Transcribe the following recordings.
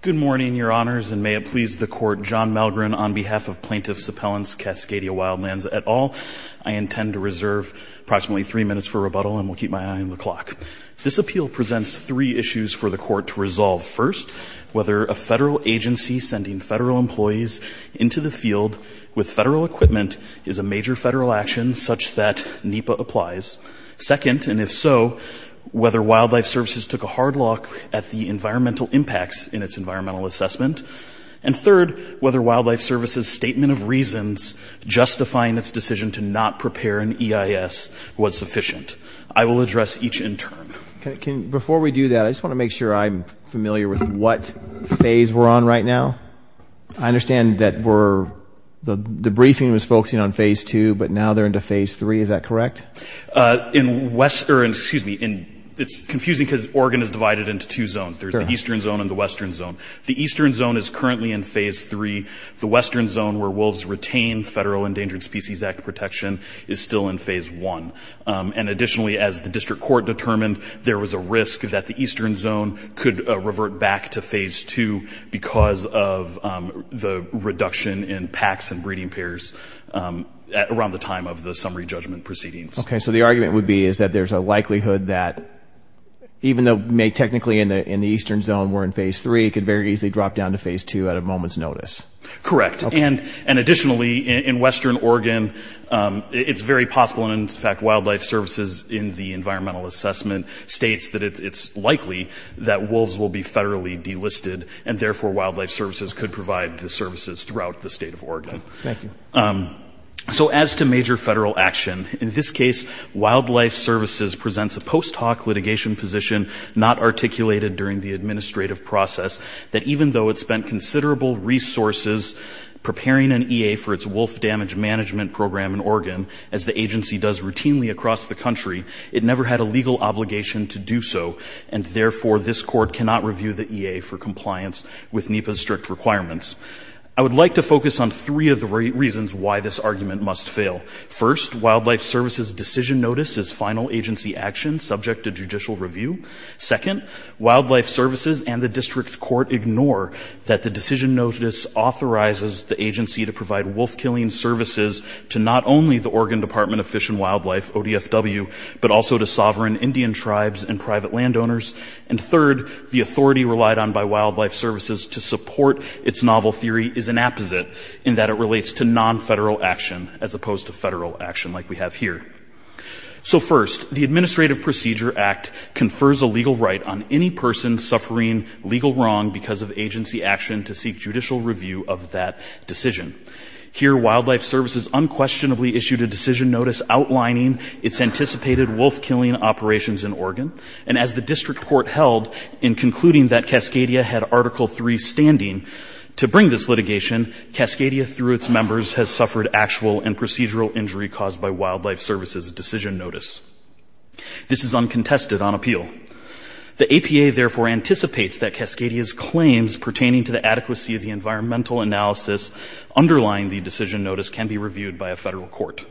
Good morning, Your Honors, and may it please the Court, John Malgren, on behalf of Plaintiffs' Appellants, Cascadia Wildlands, et al., I intend to reserve approximately three minutes for rebuttal and will keep my eye on the clock. This appeal presents three issues for the Court to resolve. First, whether a federal agency sending federal employees into the field with federal equipment is a major federal action such that NEPA applies. Second, and if so, whether Wildlife Services took a hard look at the environmental impacts in its environmental assessment. And third, whether Wildlife Services' statement of reasons justifying its decision to not prepare an EIS was sufficient. I will address each in turn. Before we do that, I just want to make sure I'm familiar with what phase we're on right now. I understand that the briefing was focusing on Phase 2, but now they're into Phase 3. Is that correct? It's confusing because Oregon is divided into two zones. There's the Eastern Zone and the Western Zone. The Eastern Zone is currently in Phase 3. The Western Zone, where wolves retain Federal Endangered Species Act protection, is still in Phase 1. And additionally, as the District Court determined, there was a risk that the Eastern Zone could revert back to Phase 2 because of the reduction in packs and breeding pairs around the time of the summary judgment proceedings. Okay. So the argument would be is that there's a likelihood that even though technically in the Eastern Zone we're in Phase 3, it could very easily drop down to Phase 2 at a moment's notice. Correct. And additionally, in Western Oregon, it's very possible, and in fact, Wildlife Services in the environmental assessment states that it's likely that wolves will be federally delisted and therefore Wildlife Services could provide the services throughout the state of Oregon. Okay. Thank you. So as to major federal action, in this case, Wildlife Services presents a post hoc litigation position not articulated during the administrative process that even though it spent considerable resources preparing an EA for its wolf damage management program in Oregon, as the agency does routinely across the country, it never had a legal obligation to do so, and therefore this court cannot review the EA for compliance with NEPA's strict requirements. I would like to focus on three of the reasons why this argument must fail. First, Wildlife Services' decision notice is final agency action subject to judicial review. Second, Wildlife Services and the district court ignore that the decision notice authorizes the agency to provide wolf killing services to not only the Oregon Department of Fish and Wildlife, ODFW, but also to sovereign Indian tribes and private landowners. And third, the authority relied on by Wildlife Services to support its novel theory is an apposite in that it relates to non-federal action as opposed to federal action like we have here. So, first, the Administrative Procedure Act confers a legal right on any person suffering legal wrong because of agency action to seek judicial review of that decision. Here, Wildlife Services unquestionably issued a decision notice outlining its anticipated wolf killing operations in Oregon, and as the district court held in concluding that Cascadia had Article 3 standing to bring this litigation, Cascadia through its members has suffered actual and procedural injury caused by Wildlife Services' decision notice. This is uncontested on appeal. The APA therefore anticipates that Cascadia's claims pertaining to the adequacy of the environmental analysis underlying the decision notice can be reviewed by a federal court.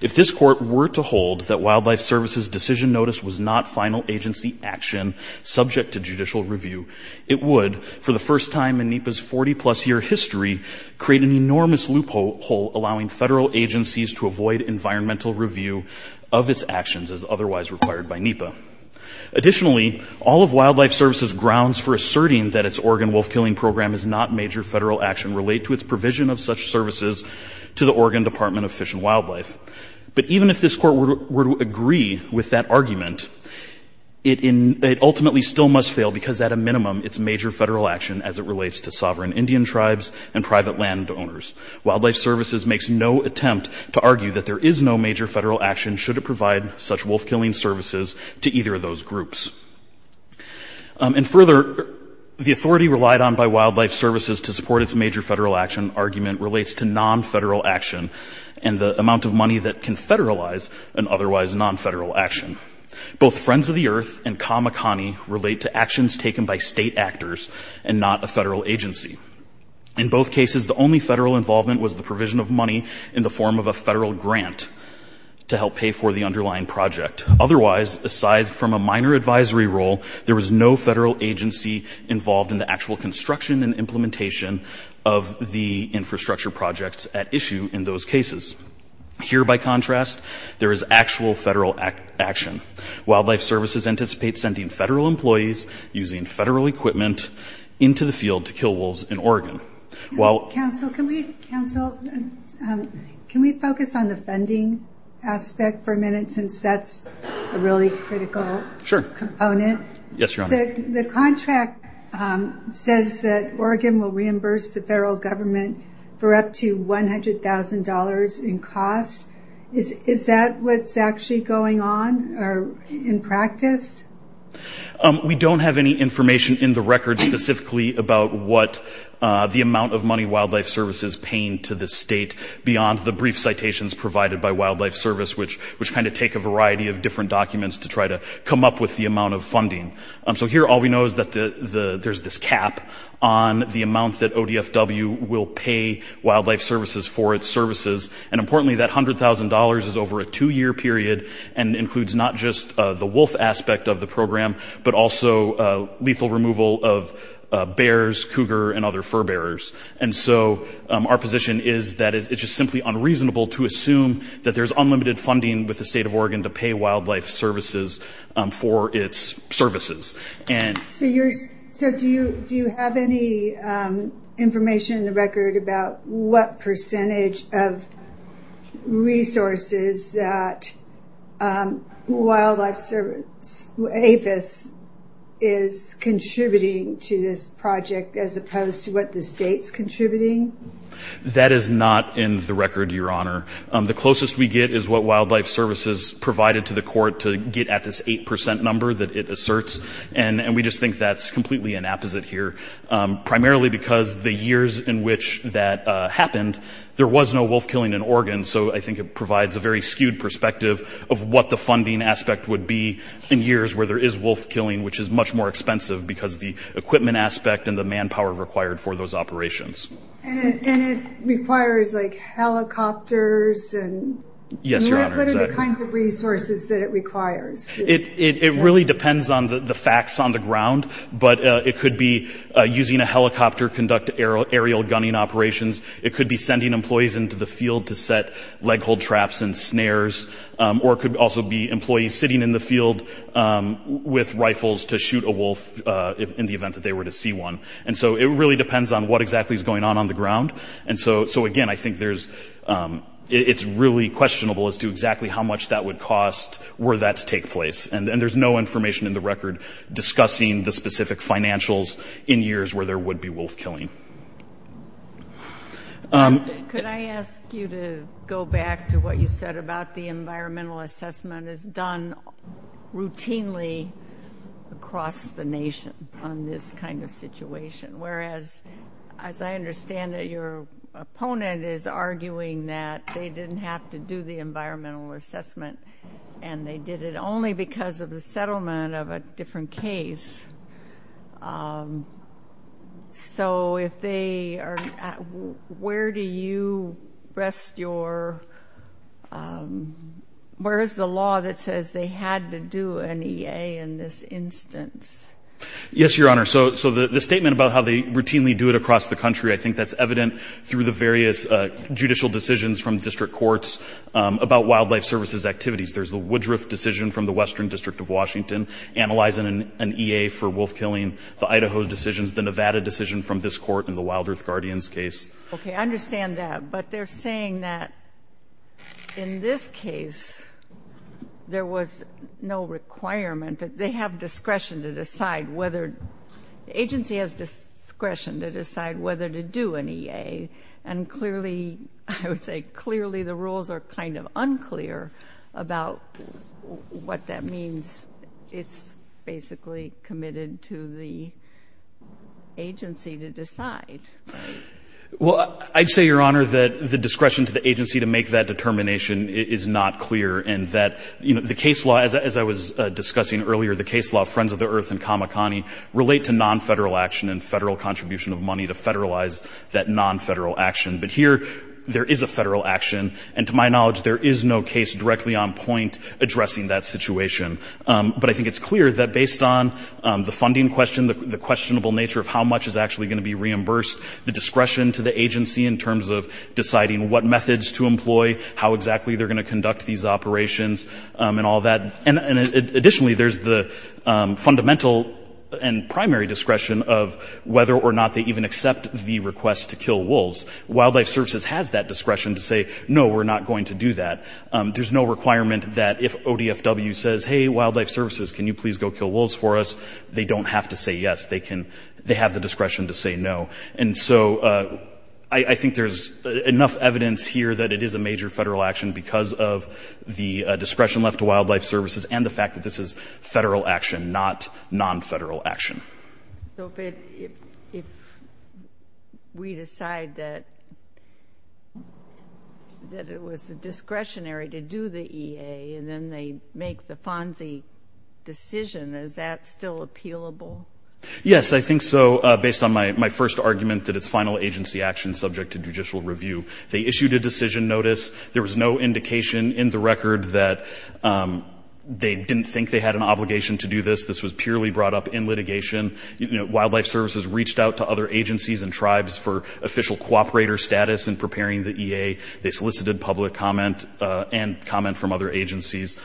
If this court were to hold that Wildlife Services' decision notice was not final agency action subject to judicial review, it would, for the first time in NEPA's 40-plus year history, create an enormous loophole allowing federal agencies to avoid environmental review of its actions as otherwise required by NEPA. Additionally, all of Wildlife Services' grounds for asserting that its Oregon wolf killing program is not major federal action relate to its provision of such services to the Oregon Department of Fish and Wildlife. But even if this court were to agree with that argument, it ultimately still must fail because at a minimum it's major federal action as it relates to sovereign Indian tribes and private landowners. Wildlife Services makes no attempt to argue that there is no major federal action should it provide such wolf killing services to either of those groups. And further, the authority relied on by Wildlife Services to support its major federal action argument relates to non-federal action and the amount of money that can federalize an otherwise non-federal action. Both Friends of the Earth and Kamehameha relate to actions taken by state actors and not a federal agency. In both cases, the only federal involvement was the provision of money in the form of a federal grant to help pay for the underlying project. Otherwise, aside from a minor advisory role, there was no federal agency involved in the actual construction and implementation of the infrastructure projects at issue in those cases. Here, by contrast, there is actual federal action. Wildlife Services anticipates sending federal employees using federal equipment into the field to kill wolves in Oregon. While- Counsel, can we focus on the funding aspect for a minute since that's a really critical component? Sure. Yes, Your Honor. The contract says that Oregon will reimburse the federal government for up to $100,000 in costs. Is that what's actually going on or in practice? We don't have any information in the record specifically about what the amount of money Wildlife Services is paying to the state beyond the brief citations provided by Wildlife Service, which kind of take a variety of different documents to try to come up with the amount of funding. So here, all we know is that there's this cap on the amount that ODFW will pay Wildlife Services for its services. And importantly, that $100,000 is over a two-year period and includes not just the wolf aspect of the program, but also lethal removal of bears, cougar, and other furbearers. And so our position is that it's just simply unreasonable to assume that there's unlimited funding with the state of Oregon to pay Wildlife Services for its services. So do you have any information in the record about what percentage of resources that Wildlife Service, APHIS, is contributing to this project as opposed to what the state's contributing? That is not in the record, Your Honor. The closest we get is what Wildlife Services provided to the court to get at this 8% number that it asserts. And we just think that's completely an apposite here, primarily because the years in which that happened, there was no wolf killing in Oregon. So I think it provides a very skewed perspective of what the funding aspect would be in years where there is wolf killing, which is much more expensive because of the equipment aspect and the manpower required for those operations. And it requires helicopters and what are the kinds of resources that it requires? It really depends on the facts on the ground, but it could be using a helicopter to conduct aerial gunning operations. It could be sending employees into the field to set leghold traps and snares. Or it could also be employees sitting in the field with rifles to shoot a wolf in the event that they were to see one. And so it really depends on what exactly is going on on the ground. And so, again, I think it's really questionable as to exactly how much that would cost were that to take place. And there's no information in the record discussing the specific financials in years where there would be wolf killing. Could I ask you to go back to what you said about the environmental assessment is done routinely across the nation on this kind of situation. Whereas, as I understand it, your opponent is arguing that they didn't have to do the environmental assessment and they did it only because of the settlement of a different case. So, if they are, where do you rest your, where is the law that says they had to do an EA in this instance? Yes, Your Honor. So, the statement about how they routinely do it across the country, I think that's evident through the various judicial decisions from district courts about wildlife services activities. There's the Woodruff decision from the Western District of Washington analyzing an EA for wolf killing, the Idaho decisions, the Nevada decision from this court in the Wild Earth Guardians case. Okay. I understand that. But they're saying that in this case there was no requirement, that they have discretion to decide whether, the agency has discretion to decide whether to do an EA. And clearly, I would say clearly the rules are kind of unclear about what that means. It's basically committed to the agency to decide. Well, I'd say, Your Honor, that the discretion to the agency to make that determination is not clear and that, you know, the case law, as I was discussing earlier, the case law Friends of the Earth and Kamikani relate to non-federal action and federal contribution of money to federalize that non-federal action. But here, there is a federal action and, to my knowledge, there is no case directly on point addressing that situation. But I think it's clear that based on the funding question, the questionable nature of how much is actually going to be reimbursed, the discretion to the agency in terms of deciding what methods to employ, how exactly they're going to conduct these operations and all that, and additionally, there's the fundamental and primary discretion of whether or not they even accept the request to kill wolves. Wildlife Services has that discretion to say, no, we're not going to do that. There's no requirement that if ODFW says, hey, Wildlife Services, can you please go kill wolves for us, they don't have to say yes. They can, they have the discretion to say no. And so, I think there's enough evidence here that it is a major federal action because of the discretion left to Wildlife Services and the fact that this is federal action, not non-federal action. So, if we decide that it was discretionary to do the EA and then they make the FONSI decision, is that still appealable? Yes, I think so, based on my first argument that it's final agency action subject to judicial review. They issued a decision notice. There was no indication in the record that they didn't think they had an obligation to do this. This was purely brought up in litigation. Wildlife Services reached out to other agencies and tribes for official cooperator status in preparing the EA. They solicited public comment and comment from other agencies.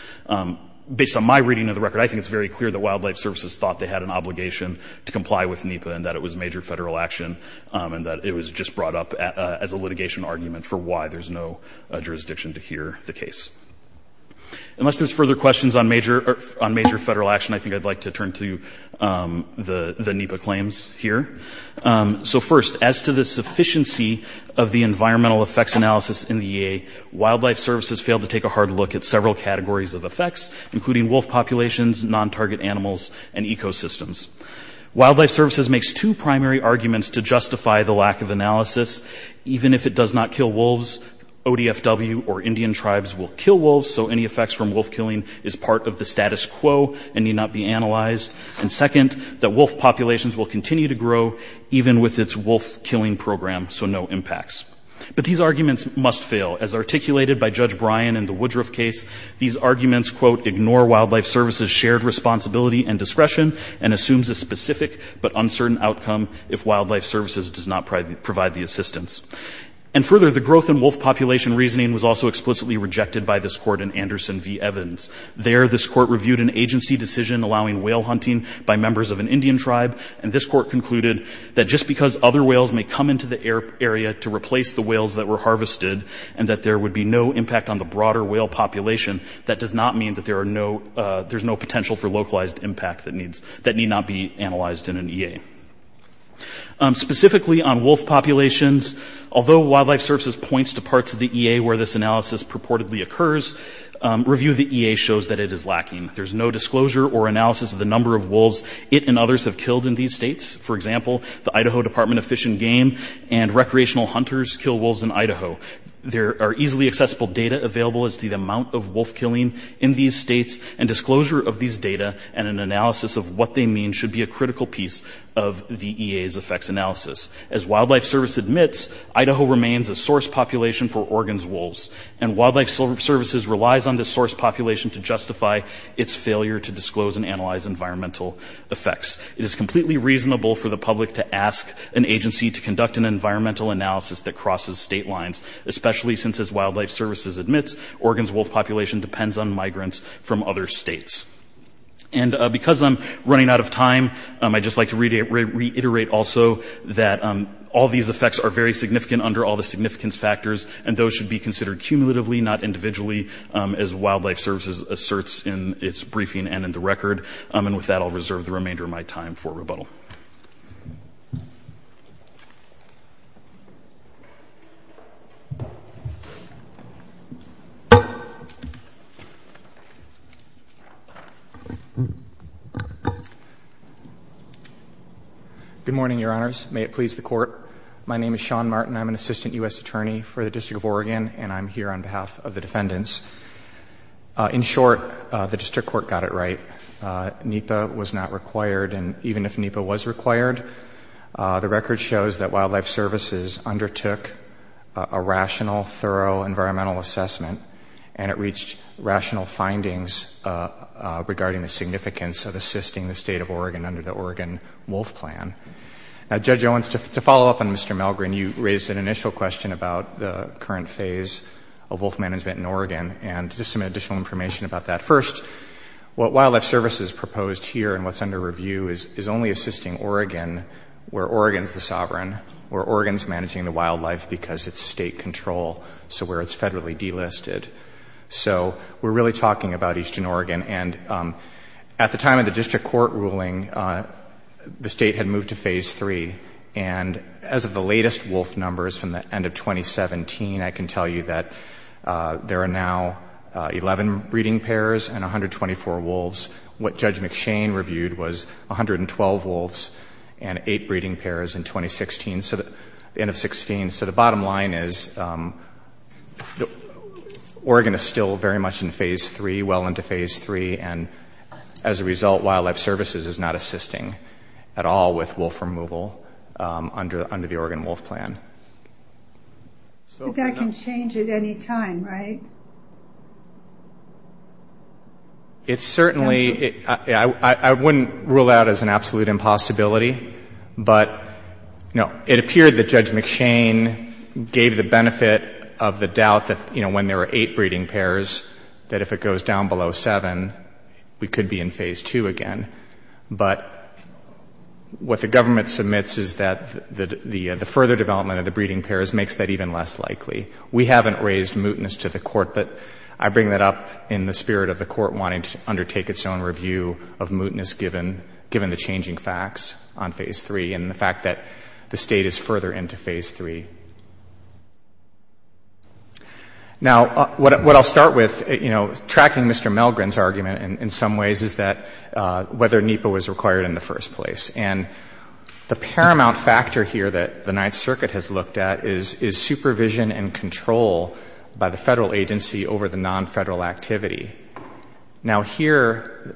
Based on my reading of the record, I think it's very clear that Wildlife Services thought they had an obligation to comply with NEPA and that it was major federal action and that it was just brought up as a litigation argument for why there's no jurisdiction to hear the case. Unless there's further questions on major federal action, I think I'd like to turn to the NEPA claims here. So first, as to the sufficiency of the environmental effects analysis in the EA, Wildlife Services failed to take a hard look at several categories of effects, including wolf populations, non-target animals, and ecosystems. Wildlife Services makes two primary arguments to justify the lack of analysis. Even if it does not kill wolves, ODFW or Indian tribes will kill wolves, so any effects from wolf killing is part of the status quo and need not be analyzed. And second, that wolf populations will continue to grow even with its wolf killing program, so no impacts. But these arguments must fail. As articulated by Judge Bryan in the Woodruff case, these arguments, quote, ignore Wildlife Services' shared responsibility and discretion and assumes a specific but uncertain outcome if Wildlife Services does not provide the assistance. And further, the growth in wolf population reasoning was also explicitly rejected by this court in Anderson v. Evans. There, this court reviewed an agency decision allowing whale hunting by members of an Indian tribe and this court concluded that just because other whales may come into the area to replace the whales that were harvested and that there would be no impact on the broader whale population, that does not mean that there's no potential for localized impact that need not be analyzed in an EA. Specifically on wolf populations, although Wildlife Services points to parts of the EA where this analysis purportedly occurs, review of the EA shows that it is lacking. There's no disclosure or analysis of the number of wolves it and others have killed in these states. For example, the Idaho Department of Fish and Game and recreational hunters kill wolves in Idaho. There are easily accessible data available as to the amount of wolf killing in these states and disclosure of these data and an analysis of what they mean should be a critical piece of the EA's effects analysis. As Wildlife Service admits, Idaho remains a source population for Oregon's wolves and Wildlife Services relies on this source population to justify its failure to disclose and analyze environmental effects. It is completely reasonable for the public to ask an agency to conduct an environmental analysis that crosses state lines, especially since, as Wildlife Services admits, Oregon's wolf population depends on migrants from other states. And because I'm running out of time, I'd just like to reiterate also that all these effects are very significant under all the significance factors and those should be considered cumulatively, not individually, as Wildlife Services asserts in its briefing and in the record. And with that, I'll reserve the remainder of my time for rebuttal. Good morning, Your Honors. May it please the Court. My name is Sean Martin. I'm an Assistant U.S. Attorney for the District of Oregon and I'm here on behalf of the defendants. In short, the District Court got it right. NEPA was not required and even if NEPA was required, the record shows that Wildlife Services undertook a rational, thorough environmental assessment and it reached rational findings regarding the significance of assisting the State of Oregon under the Oregon Wolf Plan. Now, Judge Owens, to follow up on Mr. Malgren, you raised an initial question about the current phase of wolf management in Oregon and just some additional information about that. First, what Wildlife Services proposed here and what's under review is only assisting Oregon where Oregon's the sovereign, where Oregon's managing the wildlife because it's state control, so where it's federally delisted. So we're really talking about Eastern Oregon and at the time of the District Court ruling, the State had moved to Phase 3 and as of the latest wolf numbers from the end of 2017, I can tell you that there are now 11 breeding pairs and 124 wolves. What Judge McShane reviewed was 112 wolves and 8 breeding pairs in 2016, so the end of 16. So the bottom line is Oregon is still very much in Phase 3, well into Phase 3, and as a result, Wildlife Services is not assisting at all with wolf removal under the Oregon Wolf Plan. But that can change at any time, right? It's certainly, I wouldn't rule out as an absolute impossibility, but it appeared that Judge McShane gave the benefit of the doubt that, you know, when there were 8 breeding pairs, that if it goes down below 7, we could be in Phase 2 again. But what the government submits is that the further development of the breeding pairs makes that even less likely. We haven't raised mootness to the Court, but I bring that up in the spirit of the Court wanting to undertake its own review of mootness given the changing facts on Phase 3 and the fact that the State is further into Phase 3. Now, what I'll start with, you know, tracking Mr. Melgren's argument in some ways is that whether NEPA was required in the first place. And the paramount factor here that the Ninth Circuit has looked at is supervision and control by the federal agency over the non-federal activity. Now, here,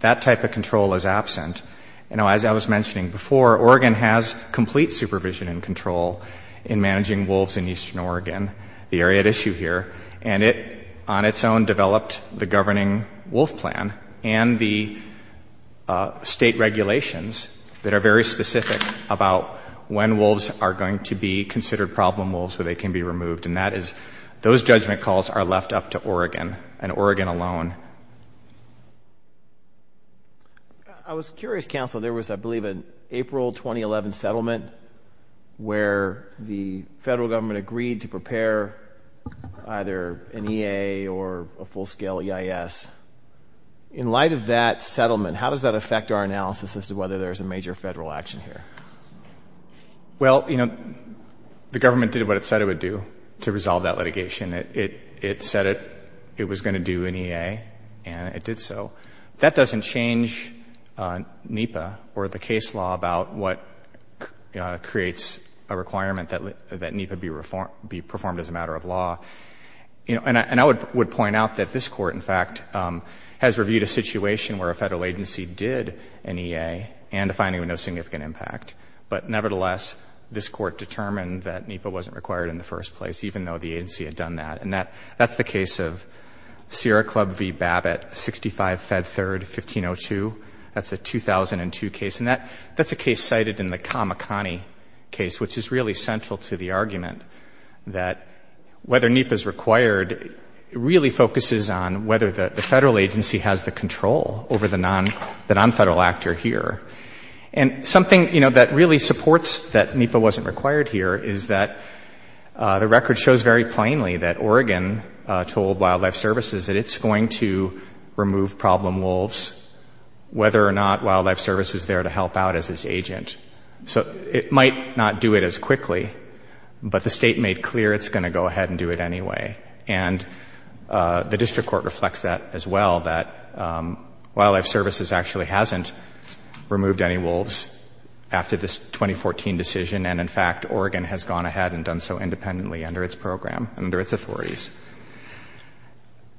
that type of control is absent. You know, as I was mentioning before, Oregon has complete supervision and control in managing wolves in eastern Oregon, the area at issue here. And it, on its own, developed the Governing Wolf Plan and the state regulations that are very specific about when wolves are going to be considered problem wolves, where they can be removed. And that is, those judgment calls are left up to Oregon and Oregon alone. I was curious, Counselor, there was, I believe, an April 2011 settlement where the federal government agreed to prepare either an EA or a full-scale EIS. In light of that settlement, how does that affect our analysis as to whether there is a major federal action here? Well, you know, the government did what it said it would do to resolve that litigation. It said it was going to do an EA, and it did so. That doesn't change NEPA or the case law about what creates a requirement that NEPA be performed as a matter of law. And I would point out that this Court, in fact, has reviewed a situation where a federal agency did an EA and a finding with no significant impact. But nevertheless, this Court determined that NEPA wasn't required in the first place, even though the agency had done that. And that's the case of Sierra Club v. Babbitt, 65 Fed 3rd, 1502. That's a 2002 case. And that's a case cited in the Kamakani case, which is really central to the argument that whether NEPA is required really focuses on whether the federal agency has the control over the nonfederal actor here. And something, you know, that really supports that NEPA wasn't required here is that the record shows very plainly that Oregon told Wildlife Services that it's going to remove problem wolves, whether or not Wildlife Services is there to help out as its agent. So it might not do it as quickly, but the State made clear it's going to go ahead and do it anyway. And the district court reflects that as well, that Wildlife Services actually hasn't removed any wolves after this 2014 decision. And, in fact, Oregon has gone ahead and done so independently under its program, under its authorities.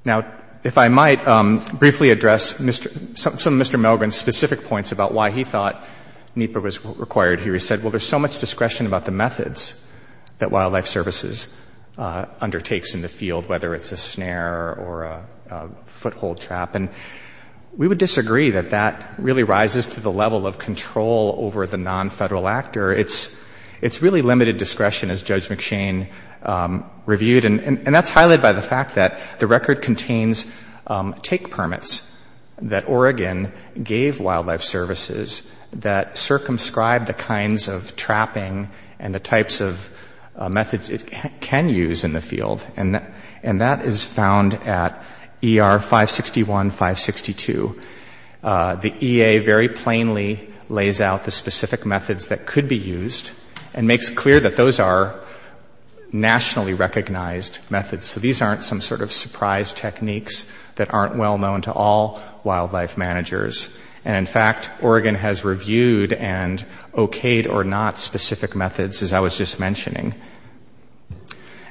Now, if I might briefly address some of Mr. Milgram's specific points about why he thought NEPA was required here. He said, well, there's so much discretion about the methods that Wildlife Services undertakes in the field, whether it's a snare or a foothold trap. And we would disagree that that really rises to the level of control over the nonfederal actor. It's really limited discretion, as Judge McShane reviewed. And that's highlighted by the fact that the record contains take permits that Oregon gave Wildlife Services that circumscribe the kinds of trapping and the types of methods it can use in the field. And that is found at ER 561, 562. The EA very plainly lays out the specific methods that could be used and makes clear that those are nationally recognized methods. So these aren't some sort of surprise techniques that aren't well known to all wildlife managers. And, in fact, Oregon has reviewed and okayed or not specific methods, as I was just mentioning.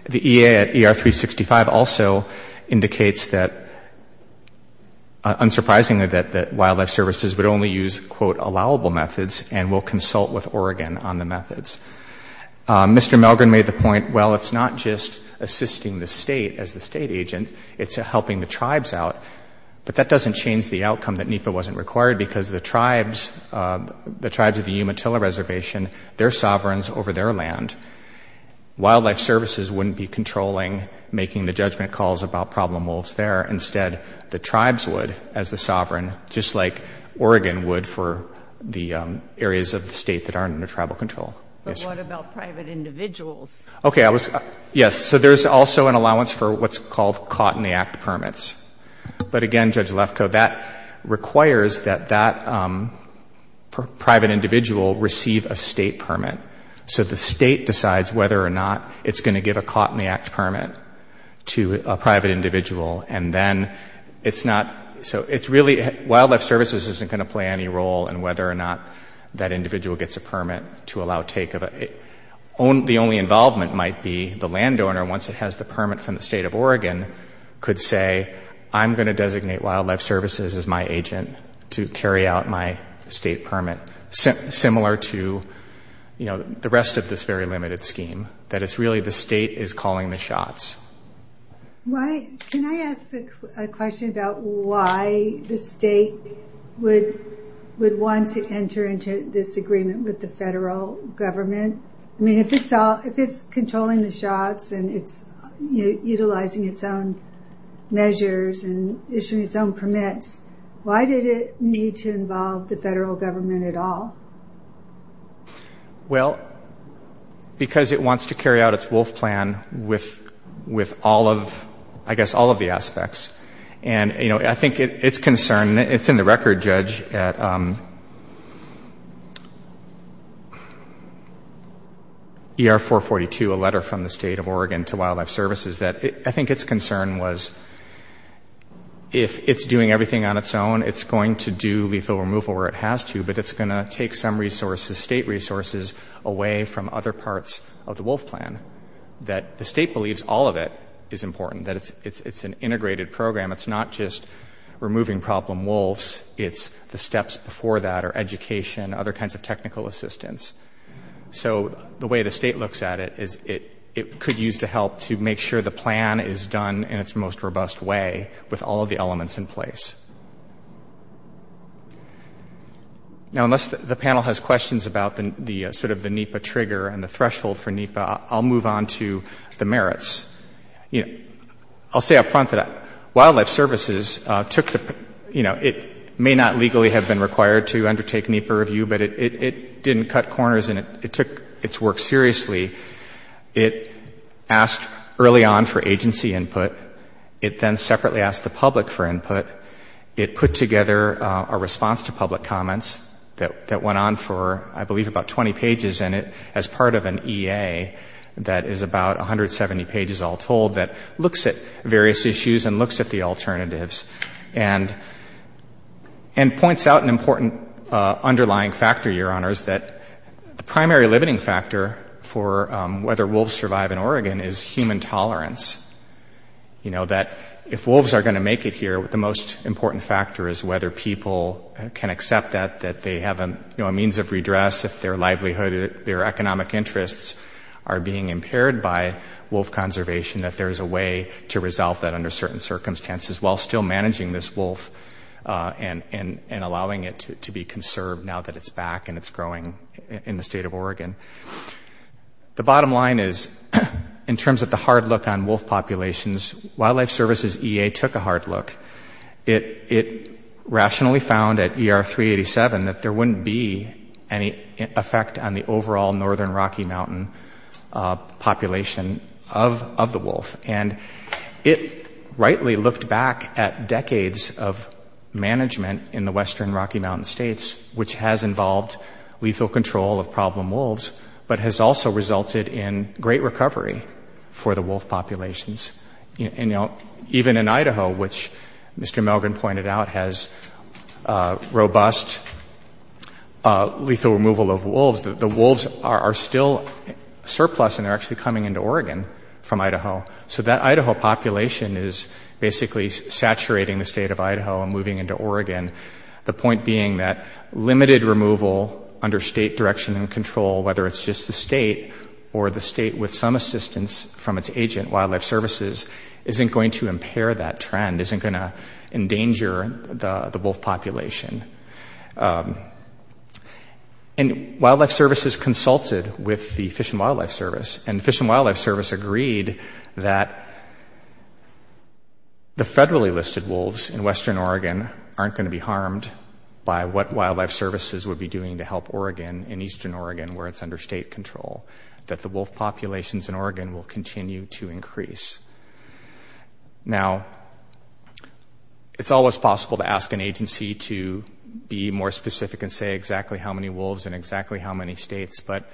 The EA at ER 365 also indicates that, unsurprisingly, that Wildlife Services would only use, quote, allowable methods and will consult with Oregon on the methods. Mr. Milgram made the point, well, it's not just assisting the state as the state agent. It's helping the tribes out. But that doesn't change the outcome that NEPA wasn't required because the tribes of the Umatilla Reservation, their sovereigns over their land, Wildlife Services wouldn't be controlling, making the judgment calls about problem wolves there. Instead, the tribes would, as the sovereign, just like Oregon would for the areas of the state that aren't under tribal control. But what about private individuals? Okay. Yes, so there's also an allowance for what's called caught in the act permits. But, again, Judge Lefkoe, that requires that that private individual receive a state permit. So the state decides whether or not it's going to give a caught in the act permit to a private individual. And then it's not, so it's really, Wildlife Services isn't going to play any role in whether or not that individual gets a permit to allow take of a, the only involvement might be the landowner, once it has the permit from the state of Oregon, could say, I'm going to designate Wildlife Services as my agent to carry out my state permit. Similar to, you know, the rest of this very limited scheme. That it's really the state is calling the shots. Why, can I ask a question about why the state would want to enter into this agreement with the federal government? I mean, if it's controlling the shots and it's utilizing its own measures and issuing its own permits, why did it need to involve the federal government at all? Well, because it wants to carry out its wolf plan with all of, I guess, all of the aspects. And, you know, I think it's concern, it's in the record, Judge, at ER442, a letter from the state of Oregon to Wildlife Services, that I think its concern was if it's doing everything on its own, it's going to do lethal removal where it has to, but it's going to take some resources, state resources, away from other parts of the wolf plan. The state believes all of it is important, that it's an integrated program. It's not just removing problem wolves. It's the steps before that are education, other kinds of technical assistance. So the way the state looks at it is it could use the help to make sure the plan is done in its most robust way with all of the elements in place. Now, unless the panel has questions about the sort of the NEPA trigger and the threshold for NEPA, I'll move on to the merits. You know, I'll say up front that Wildlife Services took the, you know, it may not legally have been required to undertake NEPA review, but it didn't cut corners and it took its work seriously. It asked early on for agency input. It then separately asked the public for input. It put together a response to public comments that went on for, I believe, about 20 pages, and it as part of an EA that is about 170 pages all told that looks at various issues and looks at the alternatives and points out an important underlying factor, Your Honors, that the primary limiting factor for whether wolves survive in Oregon is human tolerance. You know, that if wolves are going to make it here, the most important factor is whether people can accept that, that they have a means of redress if their livelihood, their economic interests are being impaired by wolf conservation, that there is a way to resolve that under certain circumstances while still managing this wolf and allowing it to be conserved now that it's back and it's growing in the state of Oregon. The bottom line is, in terms of the hard look on wolf populations, Wildlife Services EA took a hard look. It rationally found at ER 387 that there wouldn't be any effect on the overall northern Rocky Mountain population of the wolf, and it rightly looked back at decades of management in the western Rocky Mountain states, which has involved lethal control of problem wolves, but has also resulted in great recovery for the wolf populations. And, you know, even in Idaho, which Mr. Melgren pointed out has robust lethal removal of wolves, the wolves are still surplus and they're actually coming into Oregon from Idaho. So that Idaho population is basically saturating the state of Idaho and moving into Oregon, the point being that limited removal under state direction and control, whether it's just the state or the state with some assistance from its agent, Wildlife Services, isn't going to impair that trend, isn't going to endanger the wolf population. And Wildlife Services consulted with the Fish and Wildlife Service, and Fish and Wildlife Service agreed that the federally listed wolves in western Oregon aren't going to be harmed by what Wildlife Services would be doing to help Oregon and eastern Oregon where it's under state control, that the wolf populations in Oregon will continue to increase. Now, it's always possible to ask an agency to be more specific and say exactly how many wolves in exactly how many states, but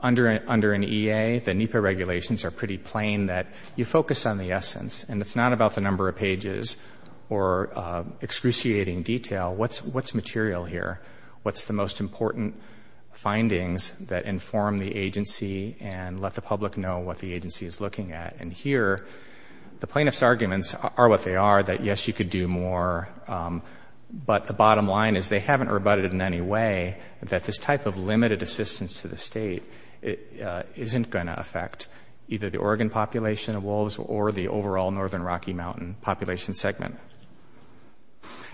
under an EA, the NEPA regulations are pretty plain that you focus on the essence and it's not about the number of pages or excruciating detail. What's material here? What's the most important findings that inform the agency and let the public know what the agency is looking at? And here, the plaintiff's arguments are what they are, that yes, you could do more, but the bottom line is they haven't rebutted in any way that this type of limited assistance to the state isn't going to affect either the Oregon population of wolves or the overall northern Rocky Mountain population segment.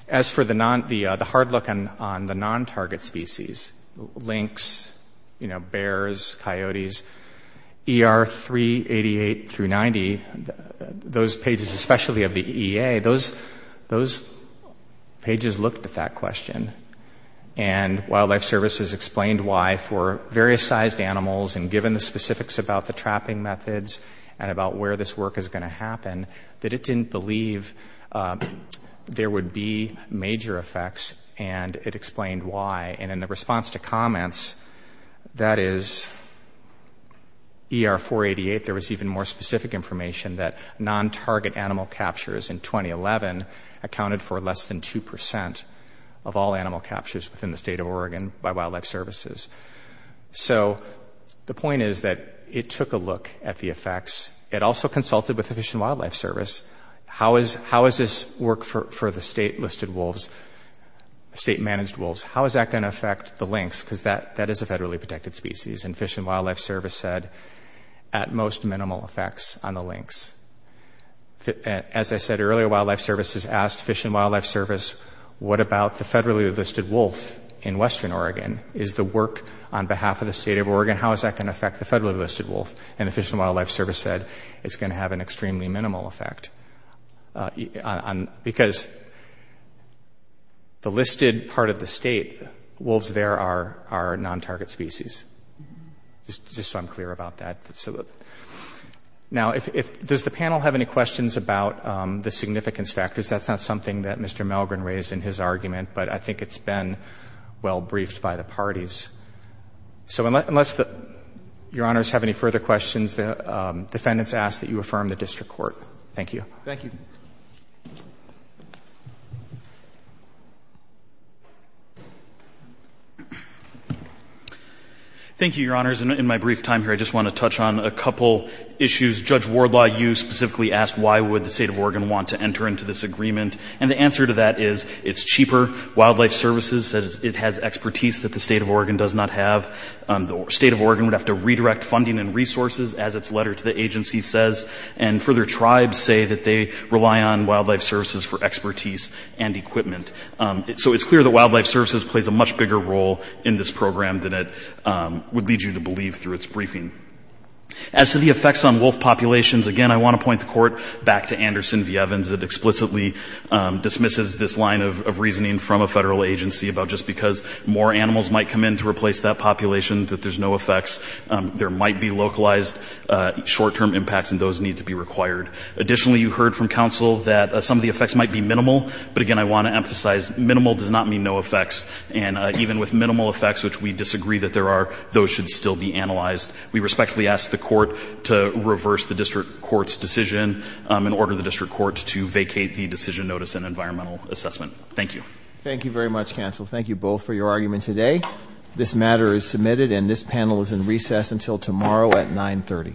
As for the hard look on the non-target species, lynx, bears, coyotes, ER 388 through 90, those pages, especially of the EA, those pages looked at that question and Wildlife Services explained why for various sized animals and given the specifics about the trapping methods and about where this work is going to happen, that it didn't believe there would be major effects and it explained why. And in the response to comments, that is ER 488, there was even more specific information that non-target animal captures in 2011 accounted for less than 2% of all animal captures within the state of Oregon by Wildlife Services. So the point is that it took a look at the effects. It also consulted with the Fish and Wildlife Service. How is this work for the state-listed wolves, state-managed wolves? How is that going to affect the lynx? Because that is a federally protected species and Fish and Wildlife Service said at most minimal effects on the lynx. As I said earlier, Wildlife Services asked Fish and Wildlife Service what about the federally listed wolf in western Oregon? Is the work on behalf of the state of Oregon, how is that going to affect the federally listed wolf? And the Fish and Wildlife Service said it's going to have an extremely minimal effect because the listed part of the state, wolves there are non-target species. Just so I'm clear about that. Now, does the panel have any questions about the significance factors? That's not something that Mr. Melgren raised in his argument, but I think it's been well briefed by the parties. So unless Your Honors have any further questions, the defendants ask that you affirm the district court. Thank you. Thank you. Thank you, Your Honors. In my brief time here, I just want to touch on a couple issues. Judge Wardlaw, you specifically asked why would the state of Oregon want to enter into this agreement. And the answer to that is it's cheaper. Wildlife Services says it has expertise that the state of Oregon does not have. The state of Oregon would have to redirect funding and resources, as its letter to the agency says, and further tribes say that they rely on Wildlife Services for expertise and equipment. So it's clear that Wildlife Services plays a much bigger role in this program than it would lead you to believe through its briefing. As to the effects on wolf populations, again, I want to point the court back to Anderson v. Evans. It explicitly dismisses this line of reasoning from a federal agency about just because more animals might come in to replace that population that there's no effects. There might be localized short-term impacts, and those need to be required. Additionally, you heard from counsel that some of the effects might be minimal. But, again, I want to emphasize minimal does not mean no effects. And even with minimal effects, which we disagree that there are, those should still be analyzed. We respectfully ask the court to reverse the district court's decision and order the district court to vacate the decision notice and environmental assessment. Thank you. Thank you very much, counsel. Thank you both for your argument today. This matter is submitted, and this panel is in recess until tomorrow at 930.